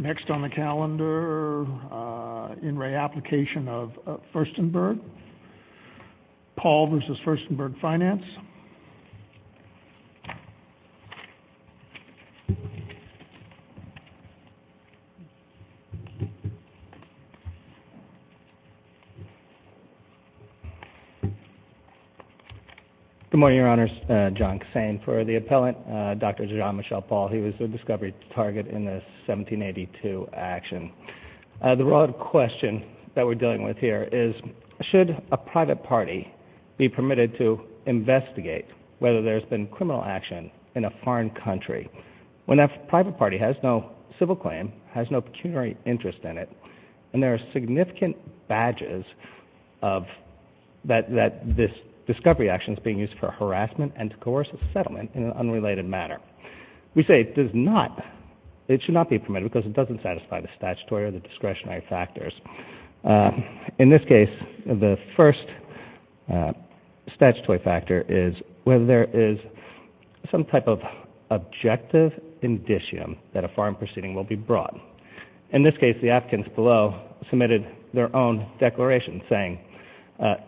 Next on the calendar, In Re. Application of Furstenberg. Paul versus Furstenberg Finance. Good morning, Your Honors. John Kassane for the appellant. Dr. Jean-Michel Paul. He was the discovery target in the 1782 action. The broad question that we're dealing with here is, should a private party be permitted to investigate whether there's been criminal action in a foreign country when that private party has no civil claim, has no pecuniary interest in it, and there are significant badges that this discovery action is being used for harassment and to coerce a settlement in an unrelated manner. We say it does not, it should not be permitted because it doesn't satisfy the statutory or the discretionary factors. In this case, the first statutory factor is whether there is some type of objective indicium that a foreign proceeding will be brought. In this case, the applicants below submitted their own declaration saying,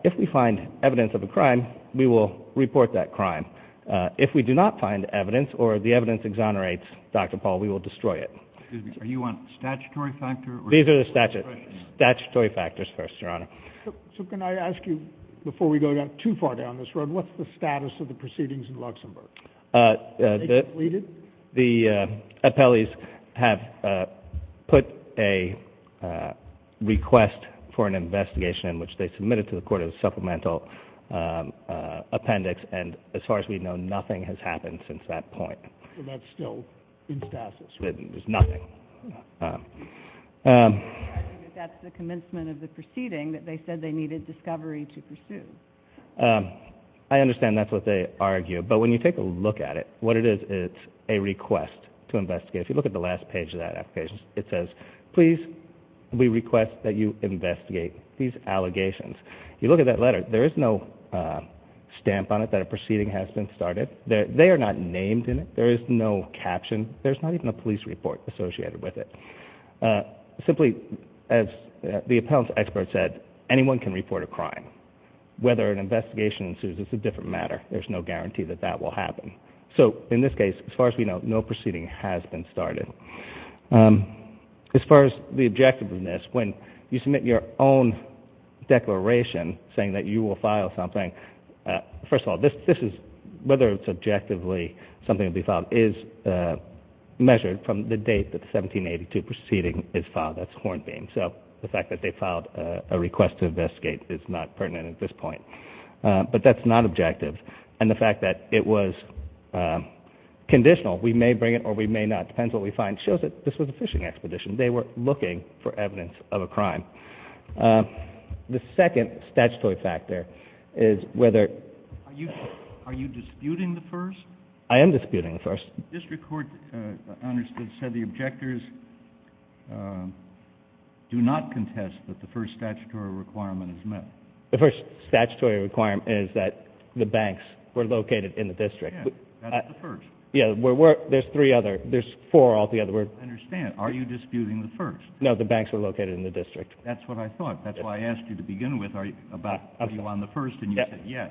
if we find evidence of a crime, we will report that crime. If we do not find evidence or the evidence exonerates Dr. Paul, we will destroy it. Excuse me, are you on the statutory factor or the discretionary factors? These are the statutory factors first, Your Honor. So can I ask you, before we go too far down this road, what's the status of the proceedings in Luxembourg? They completed? The appellees have put a request for an investigation in which they submitted to the court a supplemental appendix, and as far as we know, nothing has happened since that point. So that's still in stasis? There's nothing. I think that's the commencement of the proceeding that they said they needed discovery to pursue. I understand that's what they argue, but when you take a look at it, what it is, it's a request to investigate. If you look at the last page of that application, it says, please, we request that you investigate these allegations. If you look at that letter, there is no stamp on it that a proceeding has been started. They are not named in it. There is no caption. There's not even a police report associated with it. Simply, as the appellant's expert said, anyone can report a crime. Whether an investigation ensues is a different matter. There's no guarantee that that will happen. So in this case, as far as we know, no proceeding has been started. As far as the objectiveness, when you submit your own declaration saying that you will file something, first of all, whether it's objectively something to be filed is measured from the date that the 1782 proceeding is filed. That's Hornbeam. So the fact that they have a request to investigate is not pertinent at this point. But that's not objective. And the fact that it was conditional, we may bring it or we may not, depends what we find, shows that this was a fishing expedition. They were looking for evidence of a crime. The second statutory factor is whether... Are you disputing the first? I am disputing the first. The district court understood, said the objectors do not contest that the first statutory requirement is met. The first statutory requirement is that the banks were located in the district. Yeah, that's the first. Yeah, there's three other. There's four altogether. I understand. Are you disputing the first? No, the banks were located in the district. That's what I thought. That's why I asked you to begin with. Are you on the first? And you said yes.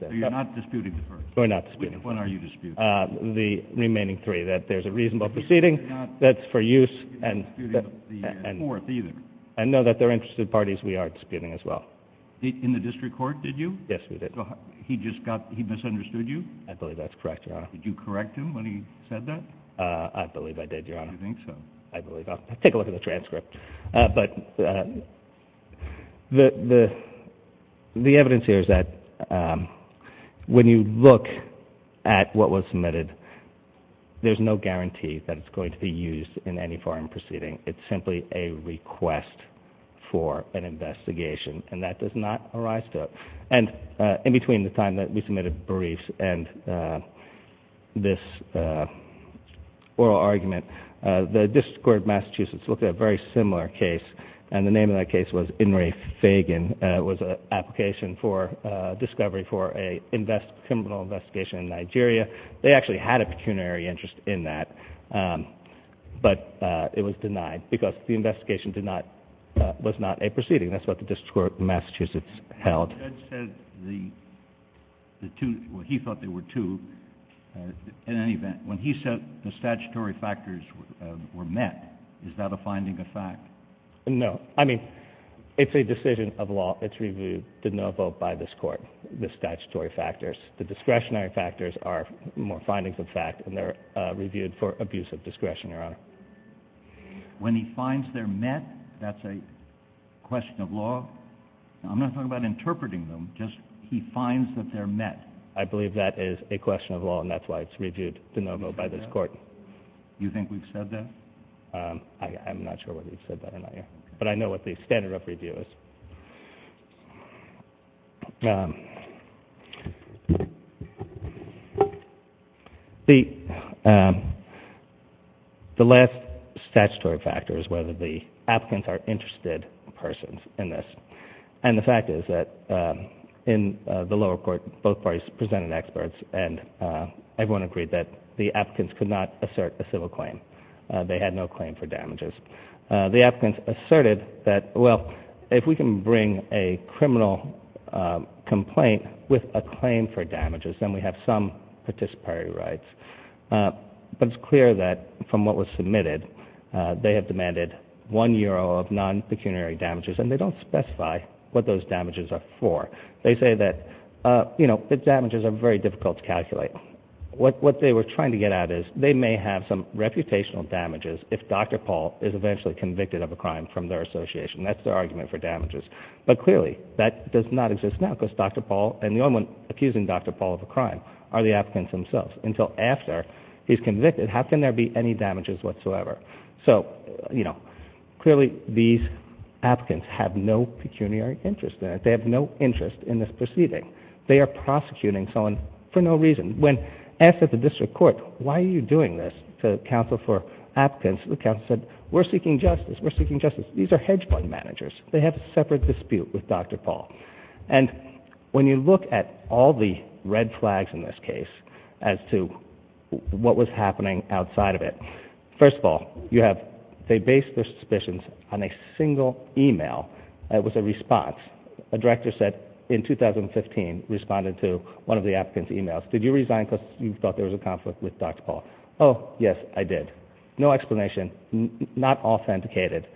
So you're not disputing the first? We're not disputing the first. When are you disputing? The remaining three, that there's a reasonable proceeding that's for use and... You're not disputing the fourth either? No, that they're interested parties we are disputing as well. In the district court, did you? Yes, we did. He just got... He misunderstood you? I believe that's correct, Your Honor. Did you correct him when he said that? I believe I did, Your Honor. Do you think so? I believe I did. Take a look at the transcript. But the evidence here is that when you look at what was submitted, there's no guarantee that it's going to be used in any foreign proceeding. It's simply a request for an investigation, and that does not arise to us. And in between the time that we submitted briefs and this oral argument, the district court of Massachusetts looked at a very similar case, and the name of that case was Inri Fagan. It was an application for discovery for a criminal investigation in Nigeria. They actually had a pecuniary interest in that, but it was denied because the investigation was not a proceeding. That's what the district court of Massachusetts held. Well, Judge said the two... Well, he thought there were two. In any event, when he said the statutory factors were met, is that a finding of fact? No. I mean, it's a decision of law. It's reviewed de novo by this court, the statutory factors. The discretionary factors are more findings of fact, and they're reviewed for abuse of discretion, Your Honor. When he finds they're met, that's a question of law? I'm not talking about interpreting them. Just he finds that they're met. I believe that is a question of law, and that's why it's reviewed de novo by this court. You think we've said that? I'm not sure whether we've said that or not yet. But I know what the standard of review is. The last statutory factor is whether the applicants are interested persons in this. And the fact is that in the lower court, both parties presented experts, and everyone agreed that the applicants could not assert a civil claim. They had no claim for damages. The applicants asserted that, well, if we can bring a criminal complaint with a claim for damages, then we have some participatory rights. But it's clear that from what was submitted, they have demanded one euro of non-pecuniary damages, and they don't specify what those damages are for. They say that the damages are very difficult to calculate. What they were trying to get at is they may have some reputational damages if Dr. Paul is eventually convicted of a crime from their association. That's their argument for damages. But clearly that does not exist now because Dr. Paul and the only one accusing Dr. Paul of a crime are the applicants themselves. Until after he's convicted, how can there be any damages whatsoever? So, you know, clearly these applicants have no pecuniary interest in it. They have no interest in this proceeding. They are prosecuting someone for no reason. When asked at the district court, why are you doing this to counsel for applicants, the counsel said, we're seeking justice. We're seeking justice. These are hedge fund managers. They have a separate dispute with Dr. Paul. And when you look at all the red flags in this case as to what was happening outside of it, first of all, you have, they base their suspicions on a single email. It was a response. A director said in 2015, responded to one of the applicant's emails, did you resign because you thought there was a conflict with Dr. Paul? Oh, yes, I did. No explanation. Not authenticated.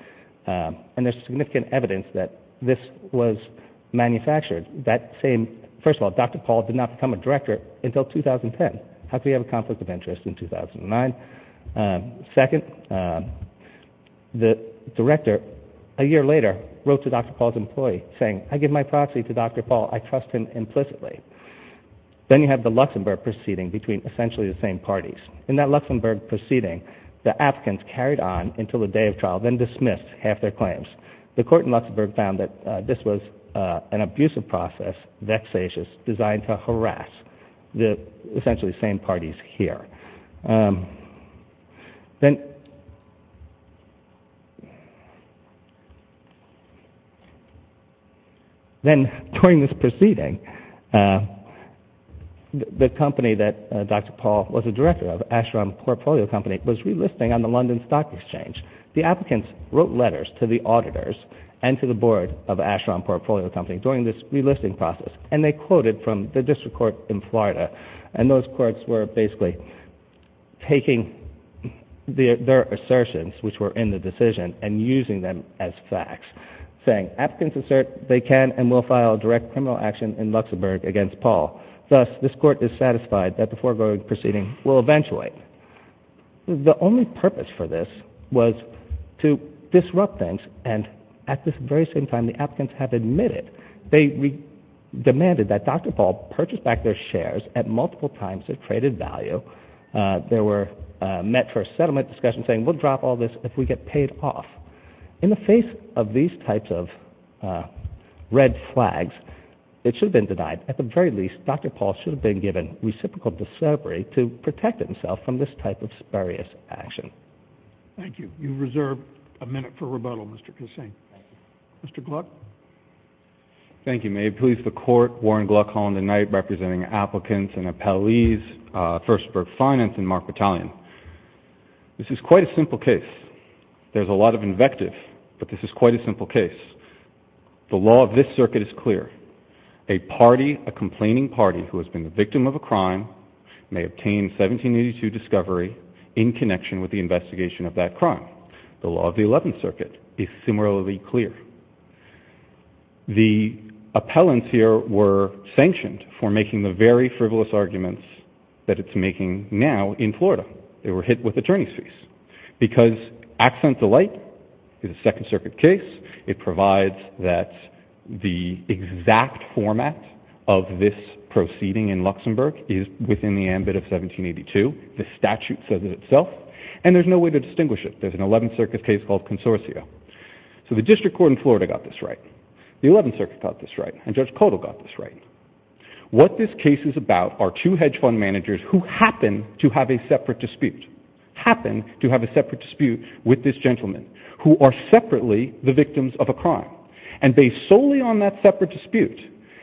And there's significant evidence that this was manufactured. That same, first of all, Dr. Paul did not become a director until 2010. How could he have a conflict of interest in 2009? Second, the director, a year later, wrote to Dr. Paul's employee saying, I give my proxy to Dr. Paul. I trust him implicitly. Then you have the Luxembourg proceeding between essentially the same parties. In that Luxembourg proceeding, the applicants carried on until the day of trial, then dismissed half their claims. The court in Luxembourg found that this was an abusive process, vexatious, designed to harass the essentially same parties here. Then, during this proceeding, the company that Dr. Paul was a director of, Ashram Portfolio Company, was relisting on the London Stock Exchange. The applicants wrote letters to the auditors and to the board of Ashram Portfolio Company during this relisting process. They quoted from the district court in Florida. Those courts were basically taking their assertions, which were in the decision, and using them as facts, saying, applicants assert they can and will file direct criminal action in Luxembourg against Paul. Thus, this court is satisfied that the foregoing proceeding will eventuate. The only purpose for this was to disrupt things, and at this very same time, the applicants have admitted they demanded that Dr. Paul purchase back their shares at multiple times their traded value. They were met for a settlement discussion saying, we'll drop all this if we get paid off. In the face of these types of red flags, it should have been denied. At the very least, Dr. Paul should have been given reciprocal deservery to protect himself from this type of spurious action. Thank you. You reserve a minute for rebuttal, Mr. Kissing. Mr. Gluck? Thank you. May it please the court, Warren Gluck, Holland and Knight, representing applicants and appellees, Firstburg Finance, and Mark Battalion. This is quite a simple case. There's a lot of invective, but this is quite a simple case. The law of this circuit is clear. A party, a complaining party, who has been the victim of a crime may obtain 1782 discovery in connection with the investigation of that crime. The law of the 11th circuit is similarly clear. The appellants here were sanctioned for making the very frivolous arguments that it's making now in Florida. They were hit with attorney's fees. Because Accent Delight is a Second Circuit case, it provides that the exact format of this proceeding in Luxembourg is within the ambit of and there's no way to distinguish it. There's an 11th circuit case called Consortia. So the district court in Florida got this right. The 11th circuit got this right. And Judge Kodal got this right. What this case is about are two hedge fund managers who happen to have a separate dispute with this gentleman who are separately the victims of a crime. And based solely on that separate dispute,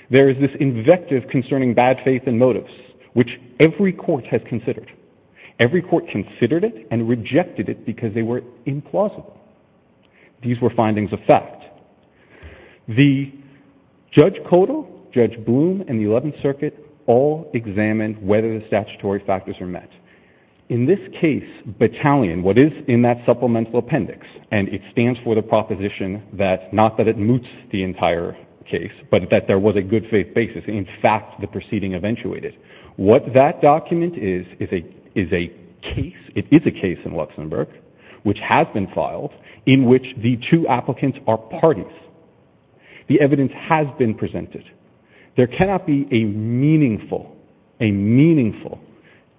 there is this invective concerning bad faith and motives, which every court has considered. Every court considered it and rejected it because they were implausible. These were findings of fact. The judge Kodal, Judge Bloom, and the 11th circuit all examined whether the statutory factors are met. In this case, Batalion, what is in that supplemental appendix and it stands for the proposition that not that it moots the entire case, but that there was a good faith basis. In fact, the proceeding eventuated. What that document is is a case in Luxembourg, which has been filed, in which the two applicants are parties. The evidence has been presented. There cannot be a meaningful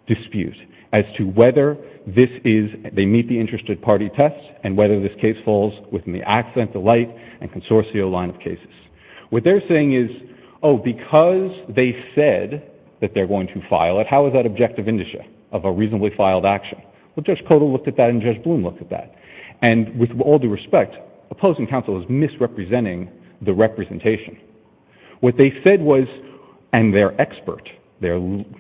dispute as to whether they meet the interested party test and whether this case falls within the accident, the light and consortia line of cases. What they're saying is, oh, because they said that they're going to file it, how is that objective indicia of a reasonably filed action? Well, Judge Kodal looked at that and Judge Bloom looked at that. With all due respect, opposing counsel is misrepresenting the representation. What they said was, and their expert, the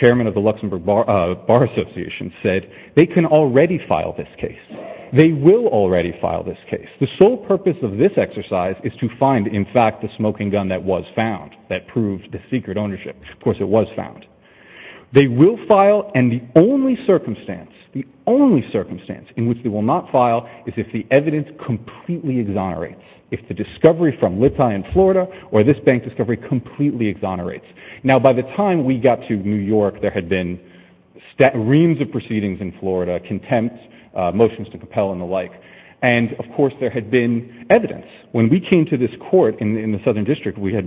chairman of the Luxembourg Bar Association, said they can already file this case. They will already file this case. The sole purpose of this exercise is to find, in fact, the smoking gun that was found, that proved the secret ownership. Of course, it was found. They will file, and the only circumstance, the only circumstance in which they will not file is if the evidence completely exonerates. If the discovery from Litai in Florida or this bank discovery completely exonerates. Now, by the time we got to New York, there had been reams of proceedings in Florida, contempt, motions to compel and the like, and, of course, there had been evidence. When we had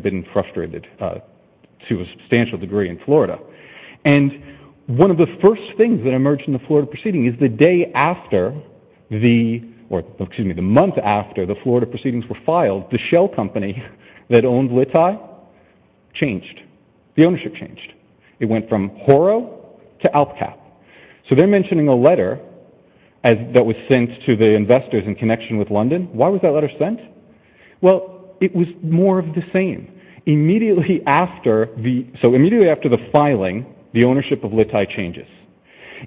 been frustrated to a substantial degree in Florida. And one of the first things that emerged in the Florida proceeding is the day after the or, excuse me, the month after the Florida proceedings were filed, the shell company that owned Litai changed. The ownership changed. It went from Horo to ALPCAP. So they're mentioning a letter that was sent to the investors in connection with London. Why was that letter sent? Well, it was more of the same. Immediately after the, so immediately after the filing, the ownership of Litai changes.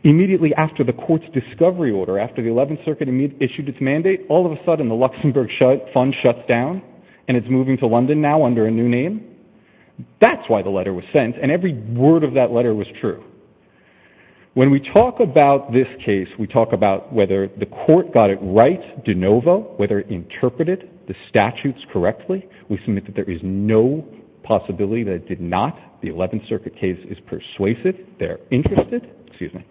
Immediately after the court's discovery order, after the 11th Circuit issued its mandate, all of a sudden the Luxembourg fund shuts down and it's moving to London now under a new name. That's why the letter was sent, and every word of that letter was true. When we talk about this case, we talk about whether the court got it right de novo, whether it interpreted the statutes correctly. We submit that there is no possibility that it did not. The 11th Circuit case is persuasive. They're interested. Excuse me.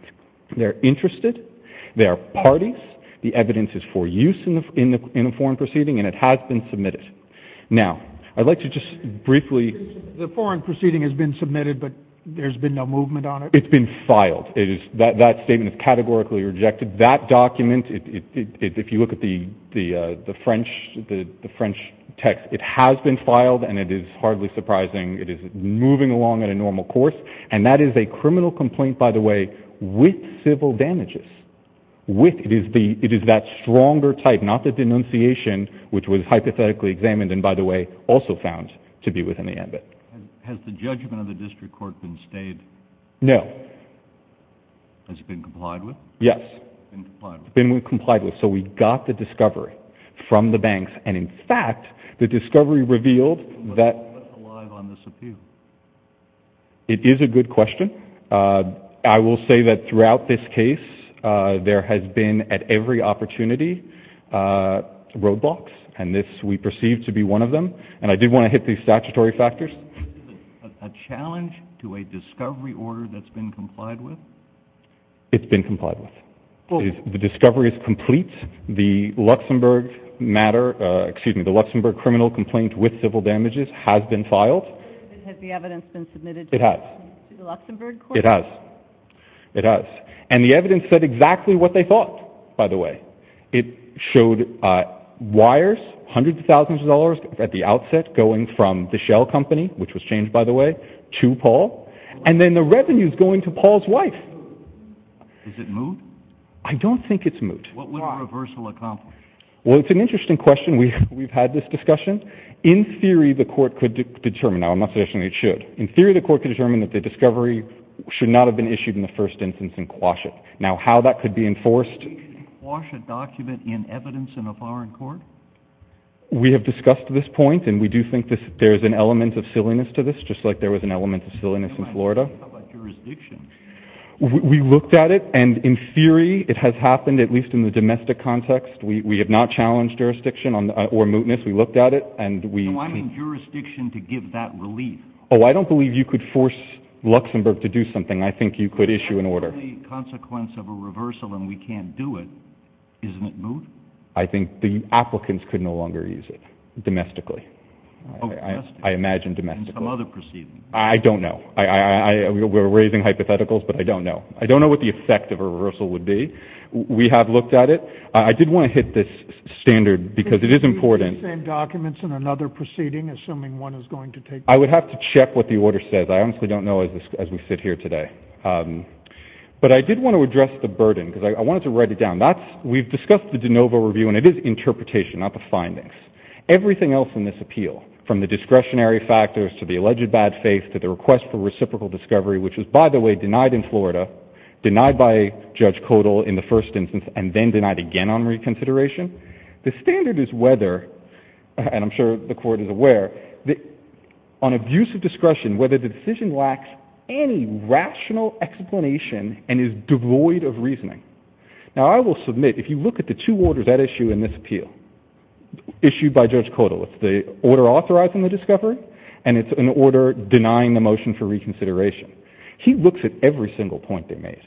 They're interested. They are parties. The evidence is for use in the foreign proceeding, and it has been submitted. Now, I'd like to just briefly... The foreign proceeding has been submitted, but there's been no movement on it? It's been filed. That statement is categorically rejected. That document, if you look at the French text, it has been filed, and it is hardly surprising. It is moving along at a normal course, and that is a criminal complaint, by the way, with civil damages. It is that stronger type, not the denunciation, which was hypothetically examined and, by the way, also found to be within the ambit. Has the judgment of the district court been stayed? No. Has it been complied with? Yes. It's been complied with, so we got the discovery from the banks, and in fact, the discovery revealed that... What's alive on this appeal? It is a good question. I will say that throughout this case, there has been, at every opportunity, roadblocks, and this we perceive to be one of them, and I did want to hit these statutory factors. A challenge to a discovery order that's been complied with? It's been complied with. The discovery is complete. The Luxembourg matter, excuse me, the Luxembourg criminal complaint with civil damages has been filed. Has the evidence been submitted to the Luxembourg court? It has. It has, and the evidence said exactly what they thought, by the way. It showed wires, hundreds of thousands of dollars at the outset going from the court to Paul, and then the revenue is going to Paul's wife. Is it moot? I don't think it's moot. What would a reversal accomplish? Well, it's an interesting question. We've had this discussion. In theory, the court could determine... Now, I'm not suggesting it should. In theory, the court could determine that the discovery should not have been issued in the first instance and quash it. Now, how that could be enforced... Can you quash a document in evidence in a foreign court? We have discussed this point, and we do think there's an element of silliness to this, just like there was an element of silliness in Florida. How about jurisdiction? We looked at it, and in theory, it has happened, at least in the domestic context. We have not challenged jurisdiction or mootness. We looked at it, and we... So I mean jurisdiction to give that relief. Oh, I don't believe you could force Luxembourg to do something. I think you could issue an order. That's the only consequence of a reversal, and we can't do it. Isn't it moot? I think the applicants could no longer use it, domestically. I imagine domestically. I don't know. We're raising hypotheticals, but I don't know. I don't know what the effect of a reversal would be. We have looked at it. I did want to hit this standard, because it is important... I would have to check what the order says. I honestly don't know as we sit here today. But I did want to address the burden, because I wanted to write it down. We've discussed the de novo review, and it is the interpretation, not the findings. Everything else in this appeal, from the discretionary factors to the alleged bad faith to the request for reciprocal discovery, which was, by the way, denied in Florida, denied by Judge Codal in the first instance, and then denied again on reconsideration, the standard is whether, and I'm sure the Court is aware, on abuse of discretion, whether the decision lacks any rational explanation and is devoid of reasoning. Now, I will submit that if you look at the two orders at issue in this appeal, issued by Judge Codal, it's the order authorizing the discovery, and it's an order denying the motion for reconsideration. He looks at every single point they made.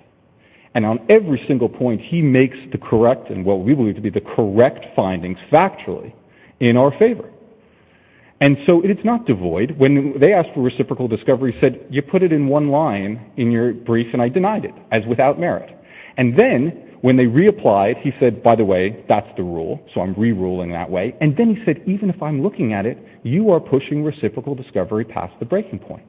And on every single point, he makes the correct, and what we believe to be the correct findings, factually, in our favor. And so it's not devoid. When they asked for reciprocal discovery, he said, you put it in one line in your brief, and I denied it, as without merit. And then, when they reapplied, he said, by the way, that's the rule, so I'm re-ruling that way, and then he said, even if I'm looking at it, you are pushing reciprocal discovery past the breaking point.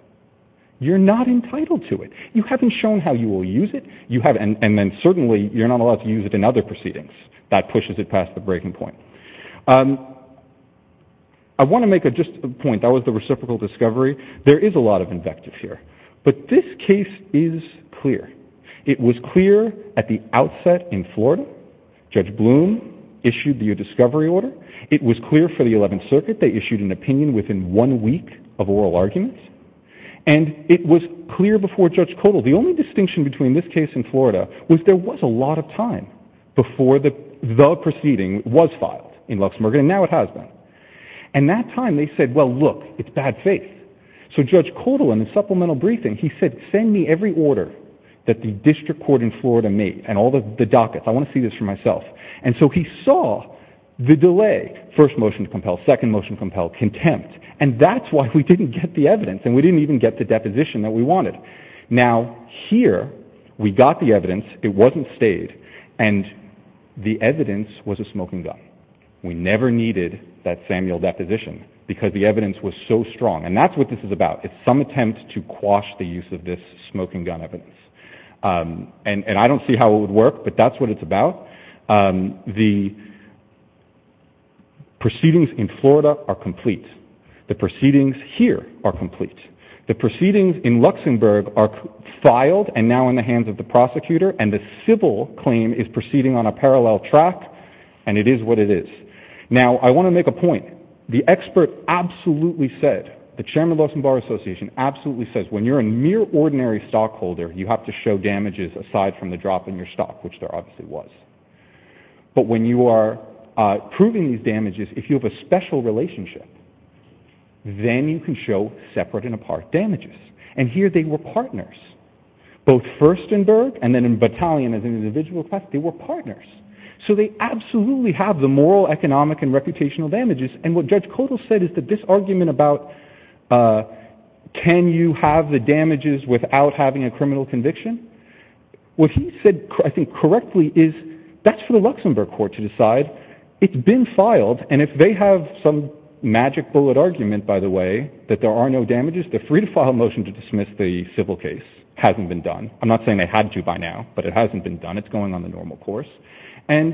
You're not entitled to it. You haven't shown how you will use it, and then certainly, you're not allowed to use it in other proceedings. That pushes it past the breaking point. I want to make just a point. That was the reciprocal discovery. There is a lot of invective here. But this case is clear. It was clear at the outset in Florida. Judge Bloom issued the discovery order. It was clear for the 11th Circuit. They issued an opinion within one week of oral arguments. And it was clear before Judge Kodal. The only distinction between this case and Florida was there was a lot of time before the proceeding was filed in Luxembourg, and now it has been. And that time, they said, well, look, it's bad faith. So Judge Kodal, in the supplemental briefing, he said, send me every order that the district court in Florida made, and all the dockets. I want to see this for myself. And so he saw the delay. First motion to compel, second motion to compel, contempt. And that's why we didn't get the evidence, and we didn't even get the deposition that we wanted. Now, here, we got the evidence. It wasn't stayed. And the evidence was a smoking gun. We never needed that Samuel deposition because the evidence was so strong. And that's what this is about. It's some attempt to quash the use of this smoking gun evidence. And I don't see how it would work, but that's what it's about. The proceedings in Florida are complete. The proceedings here are complete. The proceedings in Luxembourg are filed and now in the hands of the prosecutor, and the civil claim is proceeding on a parallel track, and it is what it is. Now, I want to make a point. The Chairman of the Luxembourg Association absolutely says when you're a mere ordinary stockholder, you have to show damages aside from the drop in your stock, which there obviously was. But when you are proving these damages, if you have a special relationship, then you can show separate and apart damages. And here they were partners. Both Firstenberg and then Battalion as an individual class, they were partners. So they absolutely have the moral, economic and reputational damages. And what Judge Kodal said is that this argument about can you have the damages without having a criminal conviction? What he said, I think correctly, is that's for the Luxembourg court to decide. It's been filed, and if they have some magic bullet argument, by the way, that there are no damages, they're free to file a motion to dismiss the civil case. Hasn't been done. I'm not saying they had to by now, but it hasn't been done. It's going on the normal course. And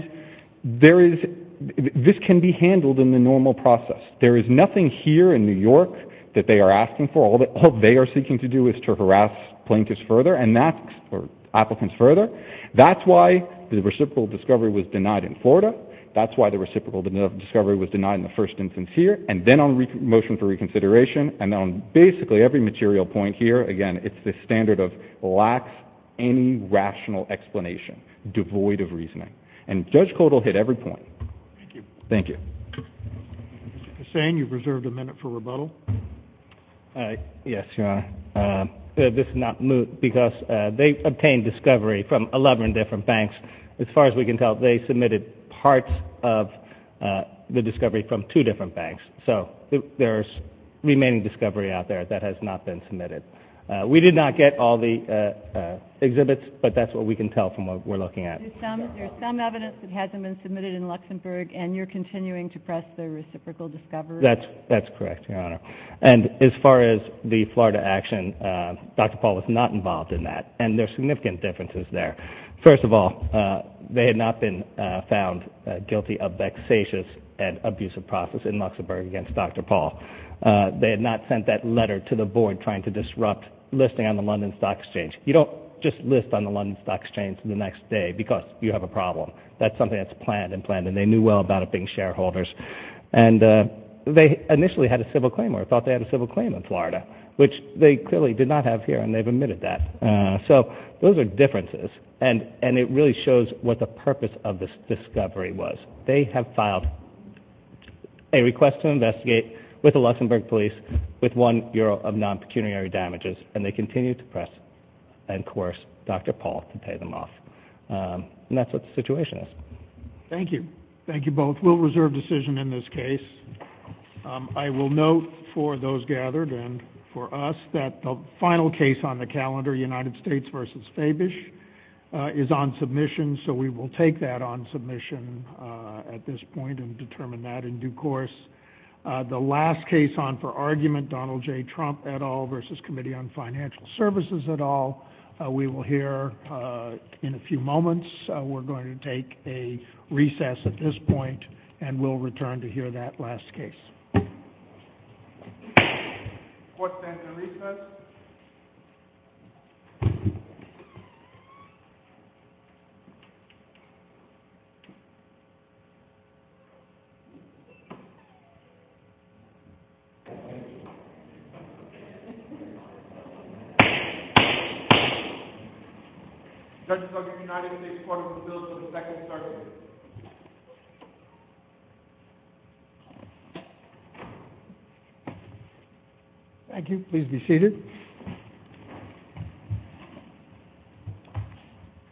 this can be argued that there's nothing here in New York that they are asking for. All they are seeking to do is to harass plaintiffs further, and that's, or applicants further. That's why the reciprocal discovery was denied in Florida. That's why the reciprocal discovery was denied in the first instance here. And then on motion for reconsideration, and on basically every material point here, again, it's the standard of lacks any rational explanation, devoid of reasoning. And Judge Kodal hit every point. Thank you. Mr. Kossain, you've reserved a minute for rebuttal. Yes, Your Honor. This is not moot, because they obtained discovery from 11 different banks. As far as we can tell, they submitted parts of the discovery from two different banks. So there's remaining discovery out there that has not been submitted. We did not get all the exhibits, but that's what we can tell from what we're looking at. There's some evidence that hasn't been submitted. Are you continuing to press the reciprocal discovery? That's correct, Your Honor. And as far as the Florida action, Dr. Paul was not involved in that. And there's significant differences there. First of all, they had not been found guilty of vexatious and abusive process in Luxembourg against Dr. Paul. They had not sent that letter to the board trying to disrupt listing on the London Stock Exchange. You don't just list on the London Stock Exchange the next day because you have a problem. That's something that's planned and planned, and they knew well about it being shareholders. They initially had a civil claim, or thought they had a civil claim in Florida, which they clearly did not have here, and they've admitted that. So those are differences, and it really shows what the purpose of this discovery was. They have filed a request to investigate with the Luxembourg police, with one bureau of non-pecuniary damages, and they continue to press and that's what the situation is. Thank you. Thank you both. We'll reserve decision in this case. I will note for those gathered and for us that the final case on the calendar, United States versus Fabish, is on submission, so we will take that on submission at this point and determine that in due course. The last case on for argument, Donald J. Trump et al. versus Committee on Financial Services et al., we will hear in a few moments. We're going to take a recess at this point and we'll return to hear that last case. Judges of the United States Court of Appeals for the second circuit. Thank you. Please be seated.